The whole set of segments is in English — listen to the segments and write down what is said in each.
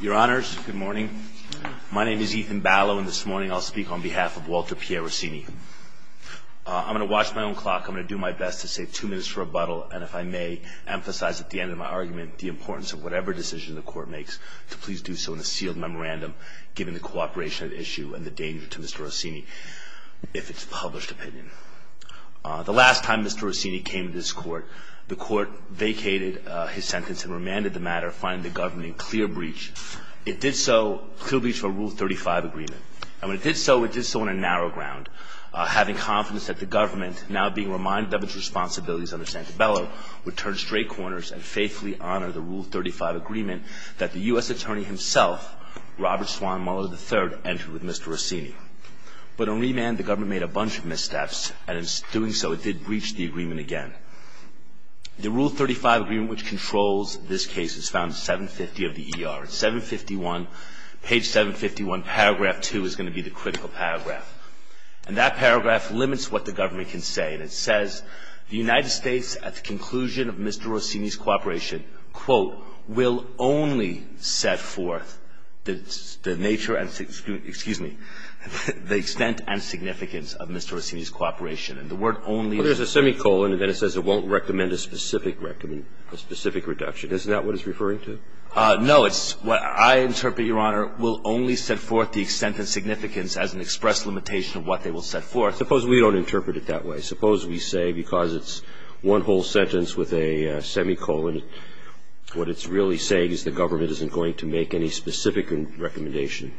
Your honors, good morning. My name is Ethan Ballo, and this morning I'll speak on behalf of Walter Pierre Rausini. I'm going to watch my own clock. I'm going to do my best to save two minutes for rebuttal. And if I may emphasize at the end of my argument the importance of whatever decision the court makes, to please do so in a sealed memorandum, given the cooperation at issue and the danger to Mr. Rausini, if it's a published opinion. The last time Mr. Rausini came to this court, the court vacated his sentence and remanded the matter, finding the government in clear breach. It did so, clear breach of a Rule 35 agreement. And when it did so, it did so on a narrow ground, having confidence that the government, now being reminded of its responsibilities under Santabella, would turn straight corners and faithfully honor the Rule 35 agreement that the U.S. attorney himself, Robert Swan Muller III, entered with Mr. Rausini. But on remand, the government made a bunch of missteps, and in doing so, it did breach the agreement again. The Rule 35 agreement, which controls this case, is found 750 of the ER. It's 751. Page 751, paragraph 2, is going to be the critical paragraph. And that paragraph limits what the government can say. And it says, the United States, at the conclusion of Mr. Rausini's cooperation, quote, will only set forth the nature and the extent and significance of Mr. Rausini's cooperation. And the word only there's a semicolon, and then it says it won't recommend a specific reduction. Isn't that what it's referring to? No. It's what I interpret, Your Honor, will only set forth the extent and significance as an express limitation of what they will set forth. Suppose we don't interpret it that way. Suppose we say, because it's one whole sentence with a semicolon, what it's really saying is the government isn't going to make any specific recommendation.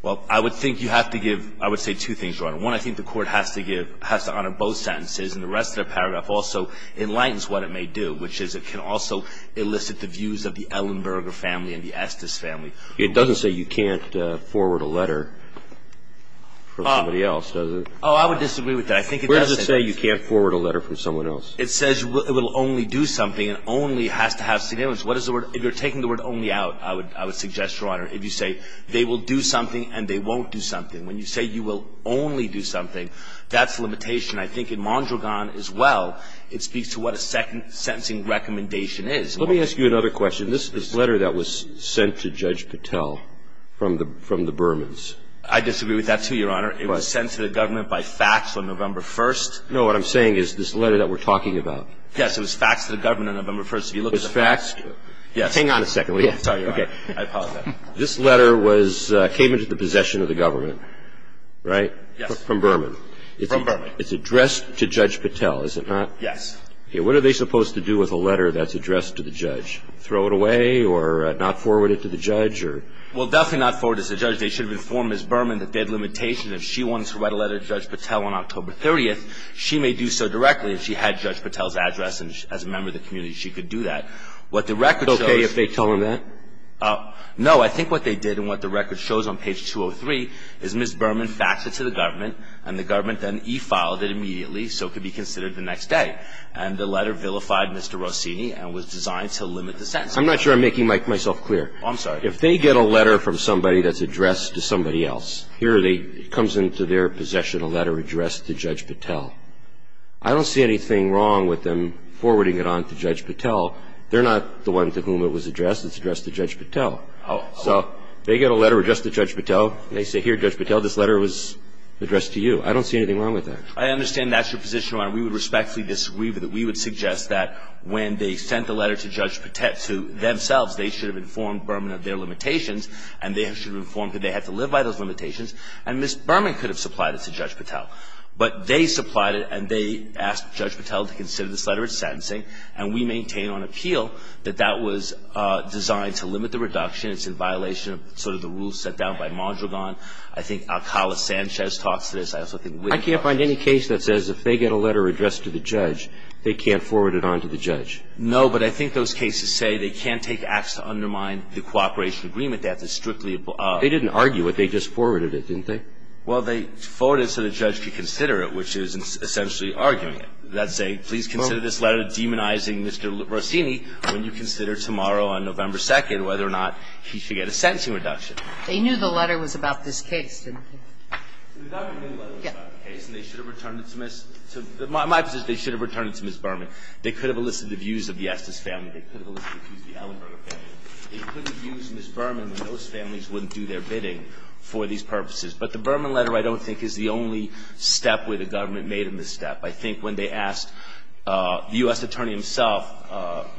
Well, I would think you have to give – I would say two things, Your Honor. One, I think the Court has to give – has to honor both sentences, and the rest of the paragraph also enlightens what it may do, which is it can also elicit the views of the Ellenberger family and the Estes family. It doesn't say you can't forward a letter from somebody else, does it? Oh, I would disagree with that. I think it does say – Where does it say you can't forward a letter from someone else? It says it will only do something and only has to have significance. What is the word – if you're taking the word only out, I would suggest, Your Honor, if you say they will do something and they won't do something. When you say you will only do something, that's a limitation. I think in Mondragon as well, it speaks to what a second sentencing recommendation is. Let me ask you another question. This letter that was sent to Judge Patel from the Bermans. I disagree with that, too, Your Honor. It was sent to the government by fax on November 1st. No, what I'm saying is this letter that we're talking about. Yes, it was faxed to the government on November 1st. It was faxed – hang on a second. Sorry, Your Honor. I apologize. This letter was – came into the possession of the government, right? Yes. From Berman. From Berman. It's addressed to Judge Patel, is it not? Yes. Okay. What are they supposed to do with a letter that's addressed to the judge? Throw it away or not forward it to the judge or – Well, definitely not forward it to the judge. They should have informed Ms. Berman that they had a limitation. If she wanted to write a letter to Judge Patel on October 30th, she may do so directly. If she had Judge Patel's address as a member of the community, she could do that. What the record shows – Is it okay if they tell him that? No. I think what they did and what the record shows on page 203 is Ms. Berman faxed it to the government and the government then e-filed it immediately so it could be considered the next day. And the letter vilified Mr. Rossini and was designed to limit the sentence. I'm not sure I'm making myself clear. I'm sorry. If they get a letter from somebody that's addressed to somebody else, here they – it comes into their possession, a letter addressed to Judge Patel. I don't see anything wrong with them forwarding it on to Judge Patel. They're not the one to whom it was addressed. It's addressed to Judge Patel. Oh. So they get a letter addressed to Judge Patel. They say, here, Judge Patel, this letter was addressed to you. I don't see anything wrong with that. I understand that's your position, Your Honor. We would respectfully disagree with it. We would suggest that when they sent the letter to Judge Patel – to themselves, they should have informed Berman of their limitations and they should have informed that they had to live by those limitations. And Ms. Berman could have supplied it to Judge Patel. But they supplied it and they asked Judge Patel to consider this letter as sentencing and we maintain on appeal that that was designed to limit the reduction. It's in violation of sort of the rules set down by Mondragon. I think Alcala Sanchez talks to this. I also think Witt talks to this. I can't find any case that says if they get a letter addressed to the judge, they can't forward it on to the judge. No, but I think those cases say they can't take acts to undermine the cooperation agreement. They have to strictly – They didn't argue it. They just forwarded it, didn't they? Well, they forwarded it so the judge could consider it, which is essentially arguing it. That's a please consider this letter demonizing Mr. Rossini when you consider tomorrow on November 2nd whether or not he should get a sentencing reduction. They knew the letter was about this case, didn't they? We thought the letter was about the case and they should have returned it to Ms. – my position is they should have returned it to Ms. Berman. They could have elicited the views of the Estes family. They could have elicited the views of the Ellenberger family. They could have used Ms. Berman when those families wouldn't do their bidding for these purposes. But the Berman letter, I don't think, is the only step where the government made a misstep. I think when they asked the U.S. attorney himself,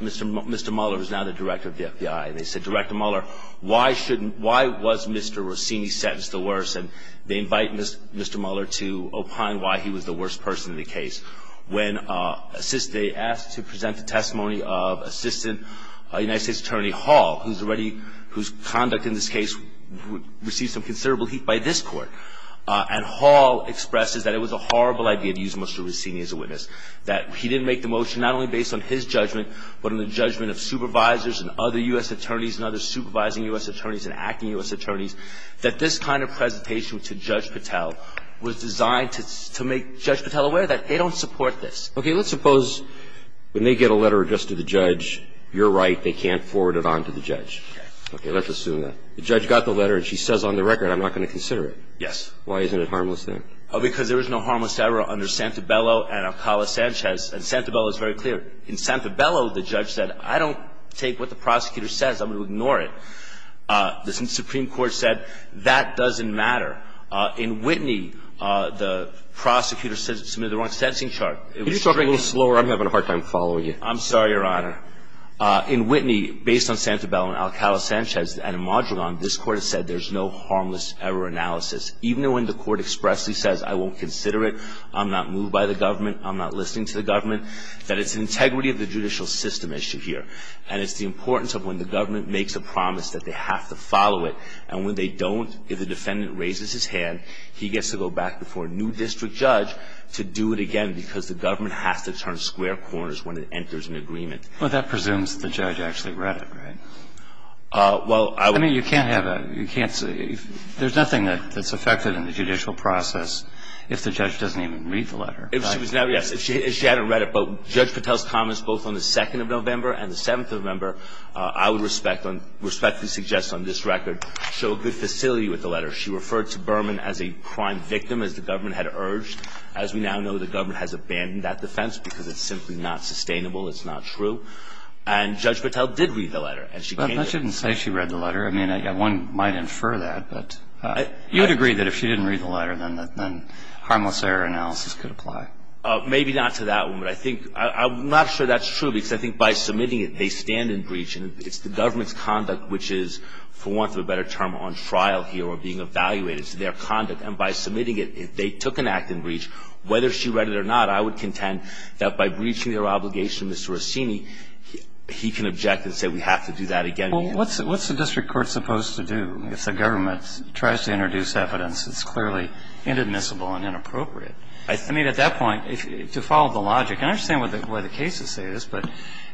Mr. Mueller, who's now the director of the FBI, and they said, Director Mueller, why shouldn't – why was Mr. Rossini sentenced the worst? And they invite Mr. Mueller to opine why he was the worst person in the case. When they asked to present the testimony of Assistant United States Attorney Hall, who's already – whose conduct in this case received some considerable heat by this Court. And Hall expresses that it was a horrible idea to use Mr. Rossini as a witness, that he didn't make the motion not only based on his judgment but on the judgment of supervisors and other U.S. attorneys and other supervising U.S. attorneys and acting U.S. attorneys, that this kind of presentation to Judge Patel was designed to make Judge Patel aware that they don't support this. Okay. Let's suppose when they get a letter addressed to the judge, you're right, they can't forward it on to the judge. Okay. Okay. Let's assume that. The judge got the letter and she says on the record, I'm not going to consider it. Yes. Why isn't it harmless then? Because there was no harmless error under Santabello and Alcala-Sanchez. And Santabello is very clear. In Santabello, the judge said, I don't take what the prosecutor says. I'm going to ignore it. The Supreme Court said, that doesn't matter. In Whitney, the prosecutor submitted the wrong sentencing chart. Could you talk a little slower? I'm having a hard time following you. I'm sorry, Your Honor. In Whitney, based on Santabello and Alcala-Sanchez and Imadragon, this Court has said there's no harmless error analysis. Even when the Court expressly says, I won't consider it, I'm not moved by the government, I'm not listening to the government, that it's integrity of the judicial system issue here. And it's the importance of when the government makes a promise that they have to follow it. And when they don't, if the defendant raises his hand, he gets to go back before a new district judge to do it again because the government has to turn square corners when it enters an agreement. Well, that presumes the judge actually read it, right? Well, I would I mean, you can't have a, you can't, there's nothing that's affected in the judicial process if the judge doesn't even read the letter. If she was never, yes, if she hadn't read it. But Judge Patel's comments both on the 2nd of November and the 7th of November, I would respectfully suggest on this record, show good facility with the letter. She referred to Berman as a crime victim, as the government had urged. As we now know, the government has abandoned that defense because it's simply not a crime. And Judge Patel did read the letter. But she didn't say she read the letter. I mean, one might infer that. But you'd agree that if she didn't read the letter, then harmless error analysis could apply. Maybe not to that one. But I think, I'm not sure that's true because I think by submitting it, they stand in breach. And it's the government's conduct which is, for want of a better term, on trial here or being evaluated. It's their conduct. And by submitting it, they took an act in breach. Whether she read it or not, I would contend that by breaching their obligation, and it's referred to the district court, and it is referred to Mr. Rossini, he can object and say we have to do that again. And he can... Robertson Well, what's the district court supposed to do if the government tries to introduce evidence that's clearly inadmissible and inappropriate? I mean, at that point, if you follow the logic – and I understand why the cases say this, but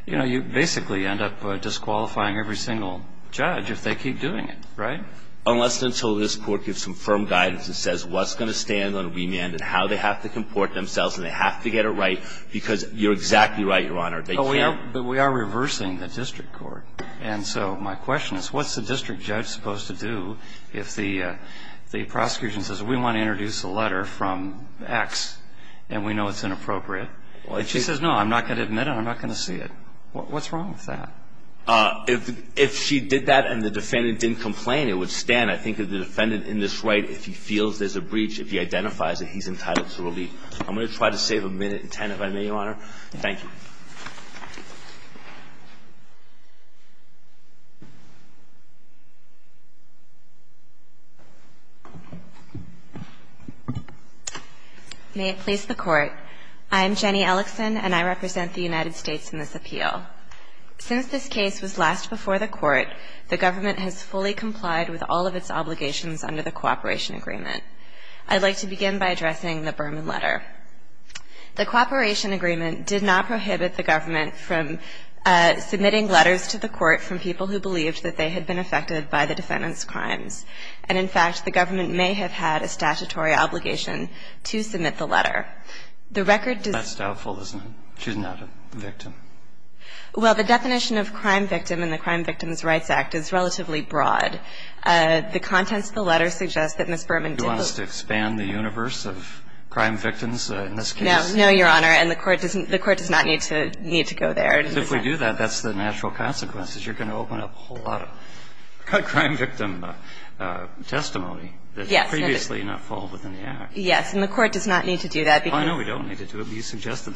you basically end up disqualifying every single judge if they keep doing it, right? Unless and until this Court gives some firm guidance and says what's going to stand on remand and how they have to comport themselves and they have to get it right, because you're exactly right, Your Honor. They can't... But we are reversing the district court. And so my question is, what's the district judge supposed to do if the prosecution says we want to introduce a letter from X and we know it's inappropriate? If she says, no, I'm not going to admit it and I'm not going to see it, what's wrong with that? If she did that and the defendant didn't complain, it would stand. I think that the defendant in this right, if he feels there's a breach, if he identifies it, he's entitled to relief. I'm going to try to save a minute and ten if I may, Your Honor. Thank you. Jenny Ellickson May it please the Court, I'm Jenny Ellickson and I represent the United States in this appeal. Since this case was last before the court, the government has fully complied with all of its obligations under the cooperation agreement. I'd like to begin by addressing the Berman letter. The cooperation agreement did not prohibit the government from submitting letters to the court from people who believed that they had been affected by the defendant's crimes. And in fact, the government may have had a statutory obligation to submit the letter. That's doubtful, isn't it? She's not a victim. Well, the definition of crime victim in the Crime Victims' Rights Act is relatively broad. The contents of the letter suggest that Ms. Berman didn't. Do you want us to expand the universe of crime victims in this case? No. No, Your Honor. And the court doesn't need to go there. Because if we do that, that's the natural consequences. You're going to open up a whole lot of crime victim testimony that previously did not fall within the act. Yes. And the court does not need to do that because. I know we don't need to do it. You suggested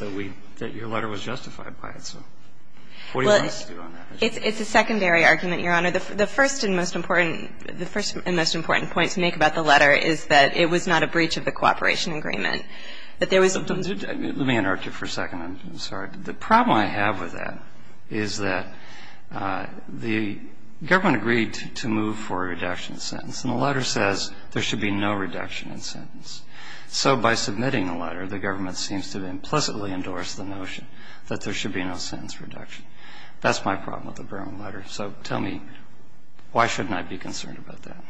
that your letter was justified by it. What do you want us to do on that? It's a secondary argument, Your Honor. The first and most important point to make about the letter is that it was not a breach of the cooperation agreement, that there was. Let me interrupt you for a second. I'm sorry. The problem I have with that is that the government agreed to move for a reduction in sentence. And the letter says there should be no reduction in sentence. So by submitting the letter, the government seems to implicitly endorse the notion that there should be no sentence reduction. That's my problem with the Berman letter. So tell me, why shouldn't I be concerned about that?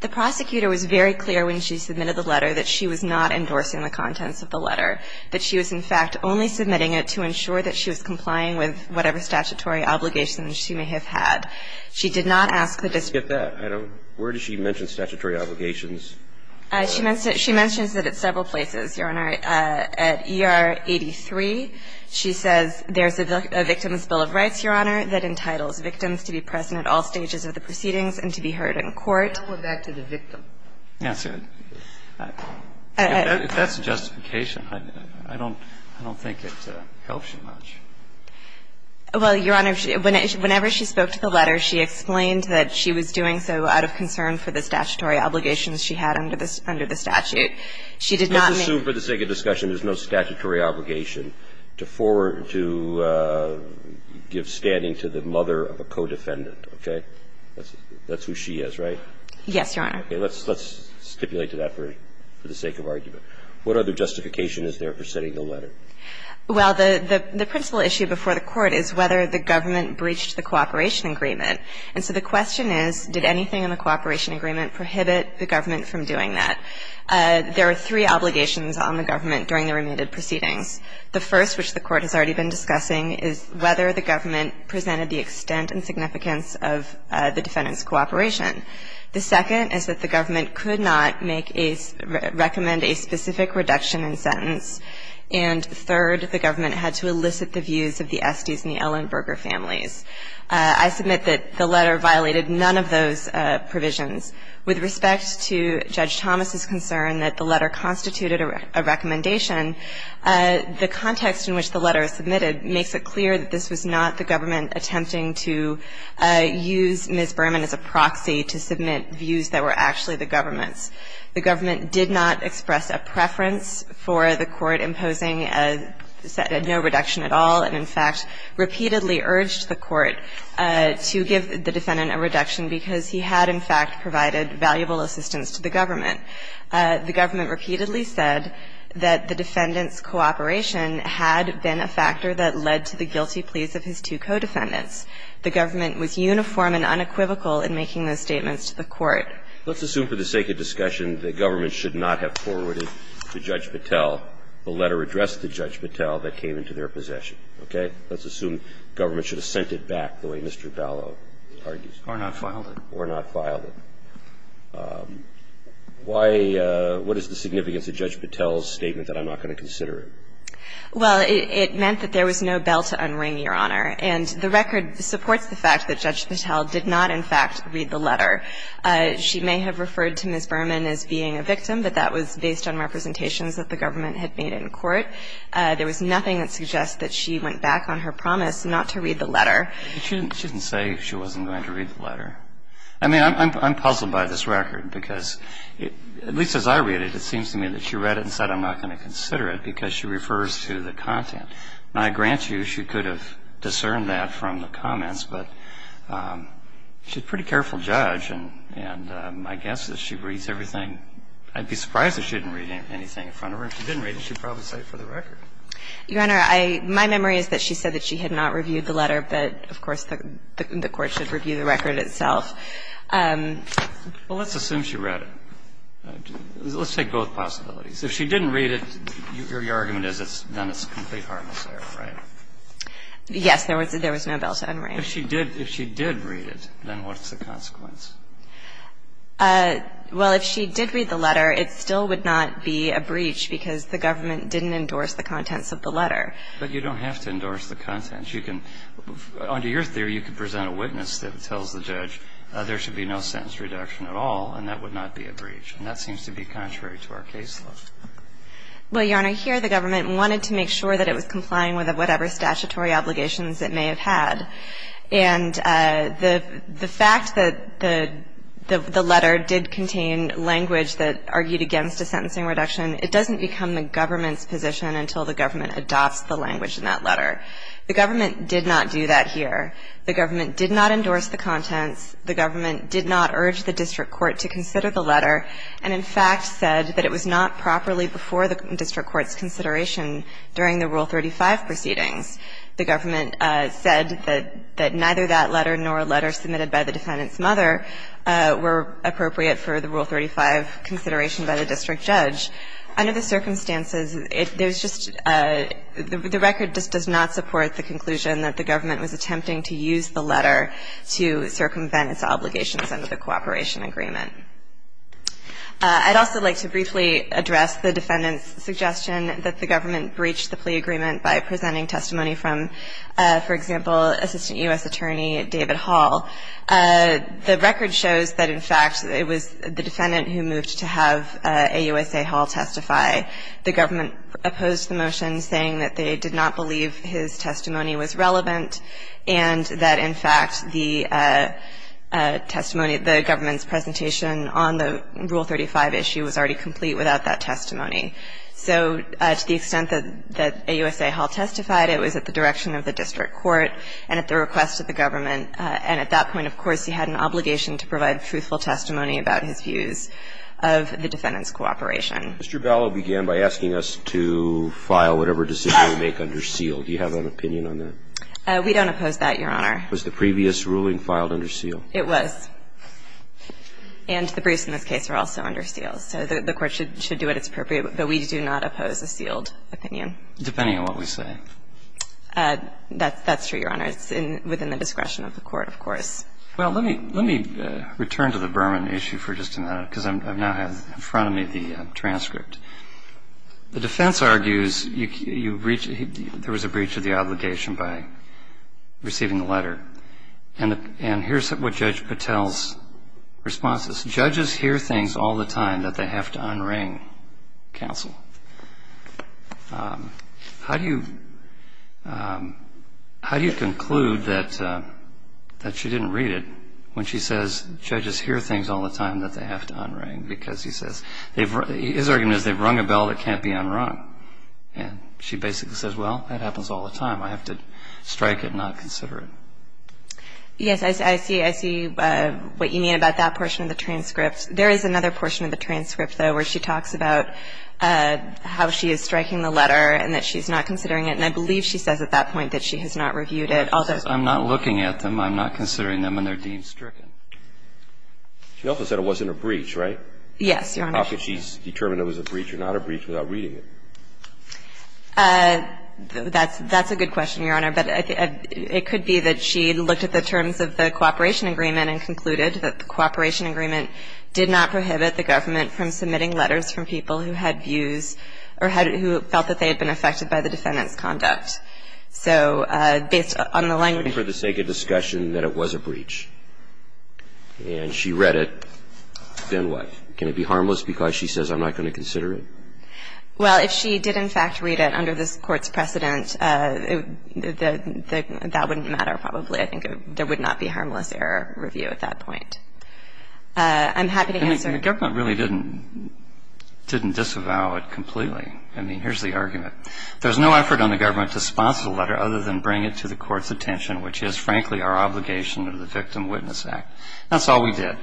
The prosecutor was very clear when she submitted the letter that she was not endorsing the contents of the letter, that she was, in fact, only submitting it to ensure that she was complying with whatever statutory obligations she may have had. She did not ask the district. I forget that. Where did she mention statutory obligations? She mentions that at several places, Your Honor. At ER 83, she says there's a Victim's Bill of Rights, Your Honor, that entitles victims to be present at all stages of the proceedings and to be heard in court. I'll hold that to the victim. Yes. If that's justification, I don't think it helps you much. Well, Your Honor, whenever she spoke to the letter, she explained that she was doing so out of concern for the statutory obligations she had under the statute. She did not make Let's assume for the sake of discussion there's no statutory obligation to forward to give standing to the mother of a co-defendant, okay? That's who she is, right? Yes, Your Honor. Okay. Let's stipulate to that for the sake of argument. What other justification is there for sending the letter? Well, the principal issue before the Court is whether the government breached the cooperation agreement. And so the question is, did anything in the cooperation agreement prohibit the government from doing that? There are three obligations on the government during the remanded proceedings. The first, which the Court has already been discussing, is whether the government presented the extent and significance of the defendant's cooperation. The second is that the government could not make a – recommend a specific reduction in sentence. And third, the government had to elicit the views of the Estes and the Ellenberger families. I submit that the letter violated none of those provisions. With respect to Judge Thomas's concern that the letter constituted a recommendation, the context in which the letter is submitted makes it clear that this was not the government attempting to use Ms. Berman as a proxy to submit views that were actually the government's. The government did not express a preference for the Court imposing a – no reduction at all and, in fact, repeatedly urged the Court to give the defendant a reduction because he had, in fact, provided valuable assistance to the government. The government repeatedly said that the defendant's cooperation had been a factor that led to the guilty pleas of his two co-defendants. The government was uniform and unequivocal in making those statements to the Court. Let's assume for the sake of discussion the government should not have forwarded to Judge Patel the letter addressed to Judge Patel that came into their possession. Okay? Let's assume government should have sent it back the way Mr. Ballow argues. Or not filed it. Or not filed it. Why – what is the significance of Judge Patel's statement that I'm not going to consider it? Well, it meant that there was no bell to unring, Your Honor. And the record supports the fact that Judge Patel did not, in fact, read the letter. She may have referred to Ms. Berman as being a victim, but that was based on representations that the government had made in court. There was nothing that suggests that she went back on her promise not to read the letter. She didn't say she wasn't going to read the letter. I mean, I'm puzzled by this record because, at least as I read it, it seems to me that she read it and said I'm not going to consider it because she refers to the content. Now, I grant you she could have discerned that from the comments, but she's a pretty careful judge, and my guess is she reads everything. I'd be surprised if she didn't read anything in front of her. If she didn't read it, she'd probably say it for the record. Your Honor, I – my memory is that she said that she had not reviewed the letter, but, of course, the court should review the record itself. Well, let's assume she read it. Let's take both possibilities. If she didn't read it, your argument is then it's a complete harmless error, right? Yes. There was no bell to unring. If she did read it, then what's the consequence? Well, if she did read the letter, it still would not be a breach because the government didn't endorse the contents of the letter. But you don't have to endorse the contents. You can – under your theory, you could present a witness that tells the judge there should be no sentence reduction at all, and that would not be a breach. And that seems to be contrary to our case law. Well, Your Honor, here the government wanted to make sure that it was complying with whatever statutory obligations it may have had. And the fact that the letter did contain language that argued against a sentencing reduction, it doesn't become the government's position until the government adopts the language in that letter. The government did not do that here. The government did not endorse the contents. The government did not urge the district court to consider the letter and, in fact, said that it was not properly before the district court's consideration during the Rule 35 proceedings. The government said that neither that letter nor a letter submitted by the defendant's mother were appropriate for the Rule 35 consideration by the district judge. Under the circumstances, there's just – the record just does not support the conclusion that the government was attempting to use the letter to circumvent its obligations under the cooperation agreement. I'd also like to briefly address the defendant's suggestion that the government breached the plea agreement by presenting testimony from, for example, Assistant U.S. Attorney David Hall. The record shows that, in fact, it was the defendant who moved to have AUSA Hall testify. The government opposed the motion, saying that they did not believe his testimony was relevant and that, in fact, the testimony – the government's presentation on the Rule 35 issue was already complete without that testimony. So to the extent that AUSA Hall testified, it was at the direction of the district court and at the request of the government. And at that point, of course, he had an obligation to provide truthful testimony about his views of the defendant's cooperation. Mr. Ballow began by asking us to file whatever decision we make under seal. Do you have an opinion on that? We don't oppose that, Your Honor. Was the previous ruling filed under seal? It was. And the briefs in this case are also under seal. So the Court should do what is appropriate. But we do not oppose a sealed opinion. Depending on what we say. That's true, Your Honor. It's within the discretion of the Court, of course. Well, let me return to the Berman issue for just a minute, because I now have in front of me the transcript. The defense argues there was a breach of the obligation by receiving the letter. And here's what Judge Patel's response is. Judges hear things all the time that they have to un-ring counsel. How do you conclude that she didn't read it when she says judges hear things all the time that they have to un-ring? Because he says, his argument is they've rung a bell that can't be un-rung. And she basically says, well, that happens all the time. I have to strike it and not consider it. Yes, I see what you mean about that portion of the transcript. There is another portion of the transcript, though, where she talks about how she is striking the letter and that she's not considering it. And I believe she says at that point that she has not reviewed it. She says, I'm not looking at them, I'm not considering them, and they're deemed stricken. She also said it wasn't a breach, right? Yes, Your Honor. How could she determine if it was a breach or not a breach without reading it? That's a good question, Your Honor. But it could be that she looked at the terms of the cooperation agreement and concluded that the cooperation agreement did not prohibit the government from submitting letters from people who had views or who felt that they had been affected by the defendant's conduct. So based on the language of the case. So if she read the letter and said that it was a breach, and she read it, then what? Can it be harmless because she says I'm not going to consider it? Well, if she did, in fact, read it under this Court's precedent, that wouldn't matter probably. I think there would not be harmless error review at that point. I'm happy to answer. The government really didn't disavow it completely. I mean, here's the argument. There's no effort on the government to sponsor the letter other than bring it to the Court's attention, which is, frankly, our obligation under the Victim Witness Act. That's all we did.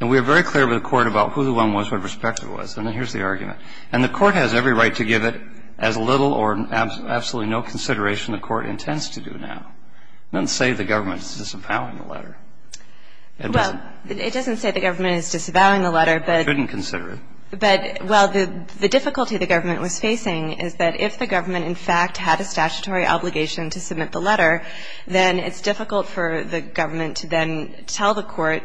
And we were very clear with the Court about who the one was, what respect it was. And then here's the argument. And the Court has every right to give it as little or absolutely no consideration the Court intends to do now. It doesn't say the government is disavowing the letter. It doesn't. Well, it doesn't say the government is disavowing the letter, but the difficulty the government was facing is that if the government, in fact, had a statutory obligation to submit the letter, then it's difficult for the government to then tell the Court,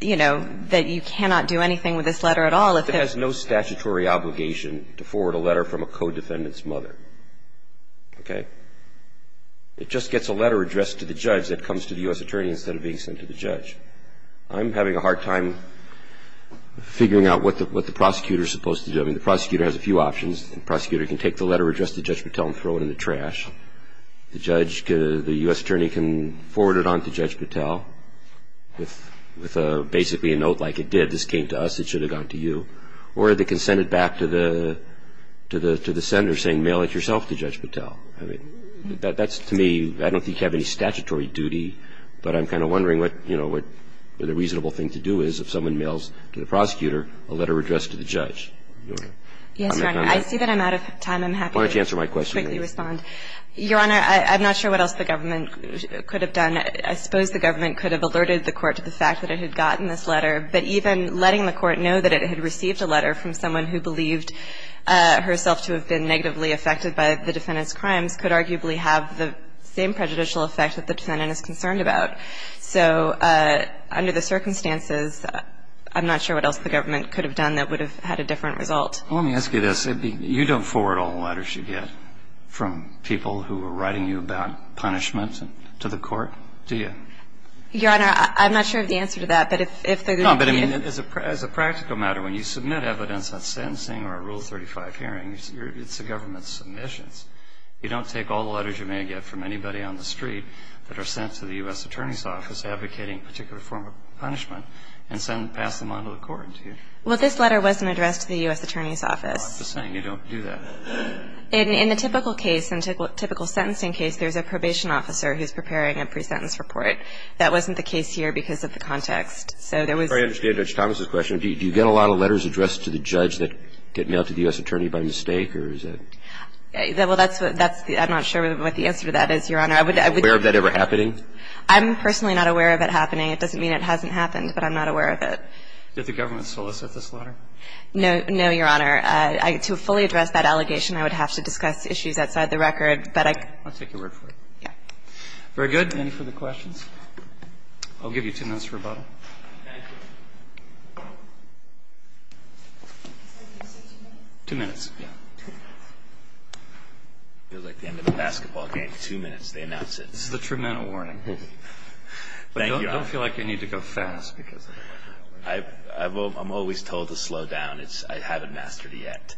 you know, that you cannot do anything with this letter at all if it has no statutory obligation to forward a letter from a co-defendant's mother. Okay? It just gets a letter addressed to the judge that comes to the U.S. attorney instead of being sent to the judge. I'm having a hard time figuring out what the prosecutor is supposed to do. I mean, the prosecutor has a few options. The prosecutor can take the letter addressed to Judge Patel and throw it in the trash. The judge, the U.S. attorney, can forward it on to Judge Patel with basically a note like, it did. This came to us. It should have gone to you. Or they can send it back to the senator saying, mail it yourself to Judge Patel. I mean, that's, to me, I don't think you have any statutory duty, but I'm kind of wondering what the reasonable thing to do is if someone mails to the prosecutor a letter. I'm not going to. I see that I'm out of time. I'm happy to quickly respond. Why don't you answer my question, please. Your Honor, I'm not sure what else the government could have done. I suppose the government could have alerted the court to the fact that it had gotten this letter, but even letting the court know that it had received a letter from someone who believed herself to have been negatively affected by the defendant's crimes could arguably have the same prejudicial effect that the defendant is concerned about. So under the circumstances, I'm not sure what else the government could have done that would have had a different result. Let me ask you this. You don't forward all the letters you get from people who are writing you about punishment to the court, do you? Your Honor, I'm not sure of the answer to that, but if they're going to be... No, but as a practical matter, when you submit evidence on sentencing or a Rule 35 hearing, it's the government's submissions. You don't take all the letters you may get from anybody on the street that are sent to the U.S. Attorney's Office advocating a particular form of punishment and pass them on to the court, do you? Well, this letter wasn't addressed to the U.S. Attorney's Office. I'm just saying you don't do that. In the typical case, in a typical sentencing case, there's a probation officer who's preparing a pre-sentence report. That wasn't the case here because of the context. So there was... I understand Judge Thomas' question. Do you get a lot of letters addressed to the judge that get mailed to the U.S. Attorney by mistake, or is it... Well, that's the... I'm not sure what the answer to that is, Your Honor. Are you aware of that ever happening? I'm personally not aware of it happening. It doesn't mean it hasn't happened, but I'm not aware of it. Did the government solicit this letter? No, Your Honor. To fully address that allegation, I would have to discuss issues outside the record, but I... I'll take your word for it. Yeah. Very good. Any further questions? I'll give you two minutes for rebuttal. Thank you. Two minutes, yeah. Feels like the end of a basketball game. Two minutes, they announce it. This is a tremendous warning. Thank you, Your Honor. I don't feel like I need to go fast because... I'm always told to slow down. I haven't mastered it yet.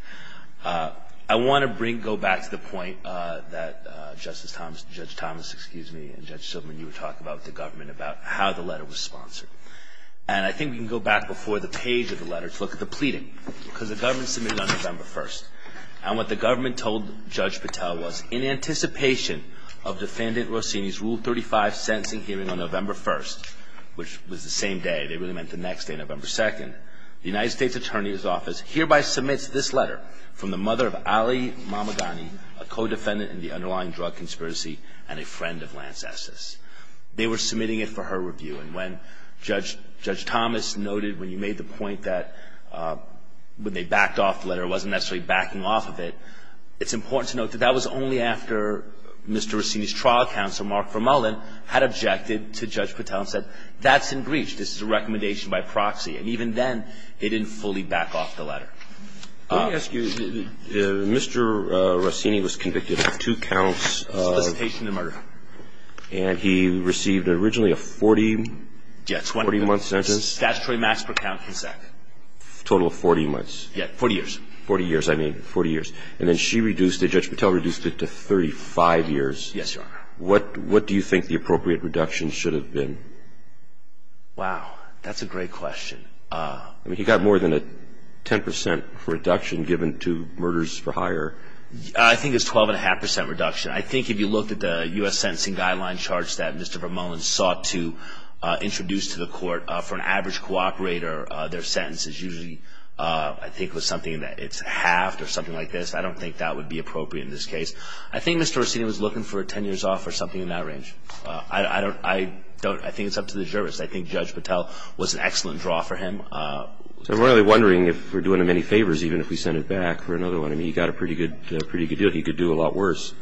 I want to bring, go back to the point that Justice Thomas, Judge Thomas, excuse me, and Judge Silverman, you were talking about with the government about how the letter was sponsored. And I think we can go back before the page of the letter to look at the pleading, because the government submitted it on November 1st. And what the government told Judge Patel was, in anticipation of Defendant Rossini's Rule 35 sentencing hearing on November 1st, which was the same day, they really meant the next day, November 2nd, the United States Attorney's Office hereby submits this letter from the mother of Ali Mamadani, a co-defendant in the underlying drug conspiracy, and a friend of Lance Esses. They were submitting it for her review. And when Judge Thomas noted, when you made the point that when they backed off the letter it wasn't necessarily backing off of it, it's important to note that that was only after Mr. Rossini's trial counsel, Mark Vermullin, had objected to Judge Patel and said, that's in breach. This is a recommendation by proxy. And even then, they didn't fully back off the letter. Let me ask you, Mr. Rossini was convicted of two counts of Supplication to murder. And he received originally a 40-month sentence. Statutory max per count consent. Total of 40 months. Yeah, 40 years. 40 years, I mean, 40 years. And then she reduced it, Judge Patel reduced it to 35 years. Yes, Your Honor. What do you think the appropriate reduction should have been? Wow. That's a great question. I mean, he got more than a 10% reduction given to murders for hire. I think it's 12.5% reduction. I think if you looked at the U.S. Sentencing Guidelines charge that Mr. Vermullin sought to introduce to the court for an average cooperator, their sentence is usually, I think it was something that it's halved or something like this. I don't think that would be appropriate in this case. I think Mr. Rossini was looking for a 10 years off or something in that range. I don't, I don't, I think it's up to the jurist. I think Judge Patel was an excellent draw for him. I'm really wondering if we're doing him any favors, even if we send it back for another one. I mean, he got a pretty good, pretty good deal. He could do a lot worse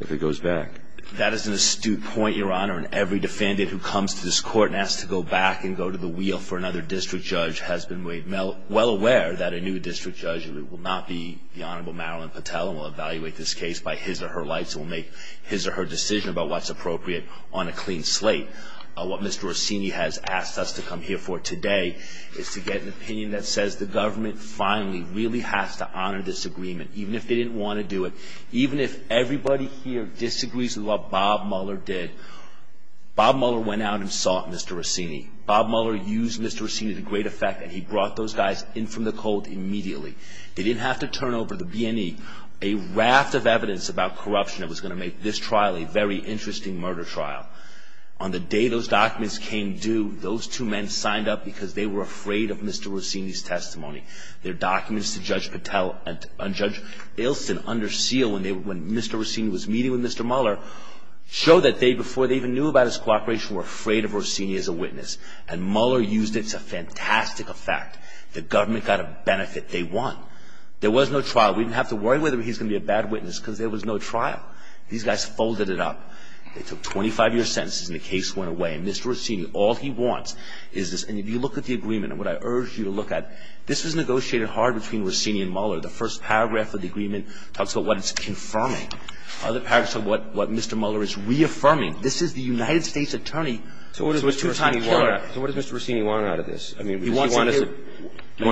if it goes back. That is an astute point, Your Honor. And every defendant who comes to this court and has to go back and go to the wheel for another district judge has been well aware that a new district judge will not be the Honorable Marilyn Patel and will evaluate this case by his or her lights and will make his or her decision about what's appropriate on a clean slate. What Mr. Rossini has asked us to come here for today is to get an opinion that says the government finally really has to honor this agreement, even if they didn't want to do it, even if everybody here disagrees with what Bob Mueller did. Bob Mueller went out and sought Mr. Rossini. Bob Mueller used Mr. Rossini to great effect, and he brought those guys in from the cold immediately. They didn't have to turn over to the BNE a raft of evidence about corruption that was going to make this trial a very interesting murder trial. On the day those documents came due, those two men signed up because they were afraid of Mr. Rossini's testimony. Their documents to Judge Patel and Judge Ilson under seal when Mr. Rossini was meeting with Mr. Mueller showed that they, before they even knew about his cooperation, were afraid of Rossini as a witness. And Mueller used it to fantastic effect. The government got a benefit. They won. There was no trial. We didn't have to worry whether he's going to be a bad witness because there was no trial. These guys folded it up. They took 25-year sentences, and the case went away. And Mr. Rossini, all he wants is this. And if you look at the agreement, and what I urge you to look at, this was negotiated hard between Rossini and Mueller. The first paragraph of the agreement talks about what it's confirming. Other paragraphs are what Mr. Mueller is reaffirming. This is the United States attorney who was a two-time killer. So what does Mr. Rossini want out of this? I mean, does he want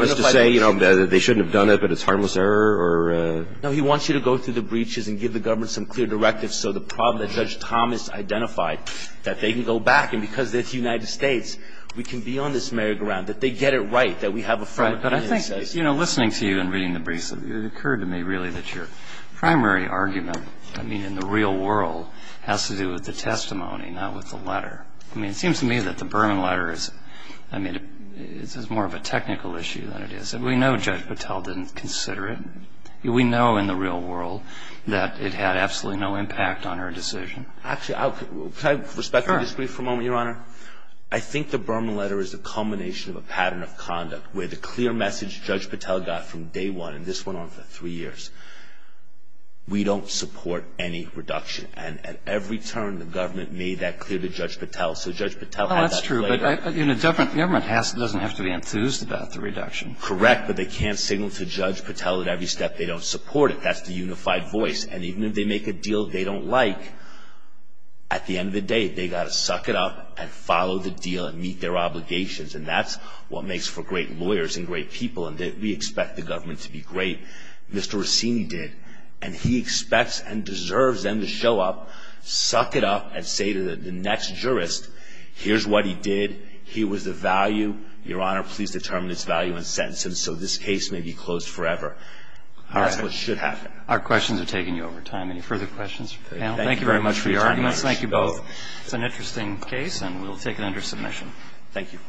us to say, you know, that they shouldn't have done it, but it's harmless error, or? No, he wants you to go through the breaches and give the government some clear directives so the problem that Judge Thomas identified, that they can go back. And because it's the United States, we can be on this merry ground, that they get it right, that we have a framework. Right. But I think, you know, listening to you and reading the breaches, it occurred to me, really, that your primary argument, I mean, in the real world, has to do with the testimony, not with the letter. I mean, it seems to me that the Berman letter is, I mean, it's more of a technical issue than it is. And we know Judge Patel didn't consider it. We know in the real world that it had absolutely no impact on her decision. Actually, can I respectfully disagree for a moment, Your Honor? Sure. I think the Berman letter is a combination of a pattern of conduct where the clear message Judge Patel got from day one, and this went on for three years, we don't support any reduction. And at every turn, the government made that clear to Judge Patel. So Judge Patel had that clear. Well, that's true. But, you know, the government doesn't have to be enthused about the reduction. Correct. But they can't signal to Judge Patel at every step they don't support it. That's the unified voice. And even if they make a deal they don't like, at the end of the day, they've got to suck it up and follow the deal and meet their obligations. And that's what makes for great lawyers and great people. And we expect the government to be great. Mr. Racine did. And he expects and deserves them to show up, suck it up, and say to the next jurist, here's what he did, here was the value, Your Honor, please determine its value and sentence him so this case may be closed forever. That's what should happen. Our questions are taking you over time. Any further questions? Thank you very much for your arguments. Thank you both. It's an interesting case, and we'll take it under submission. Thank you.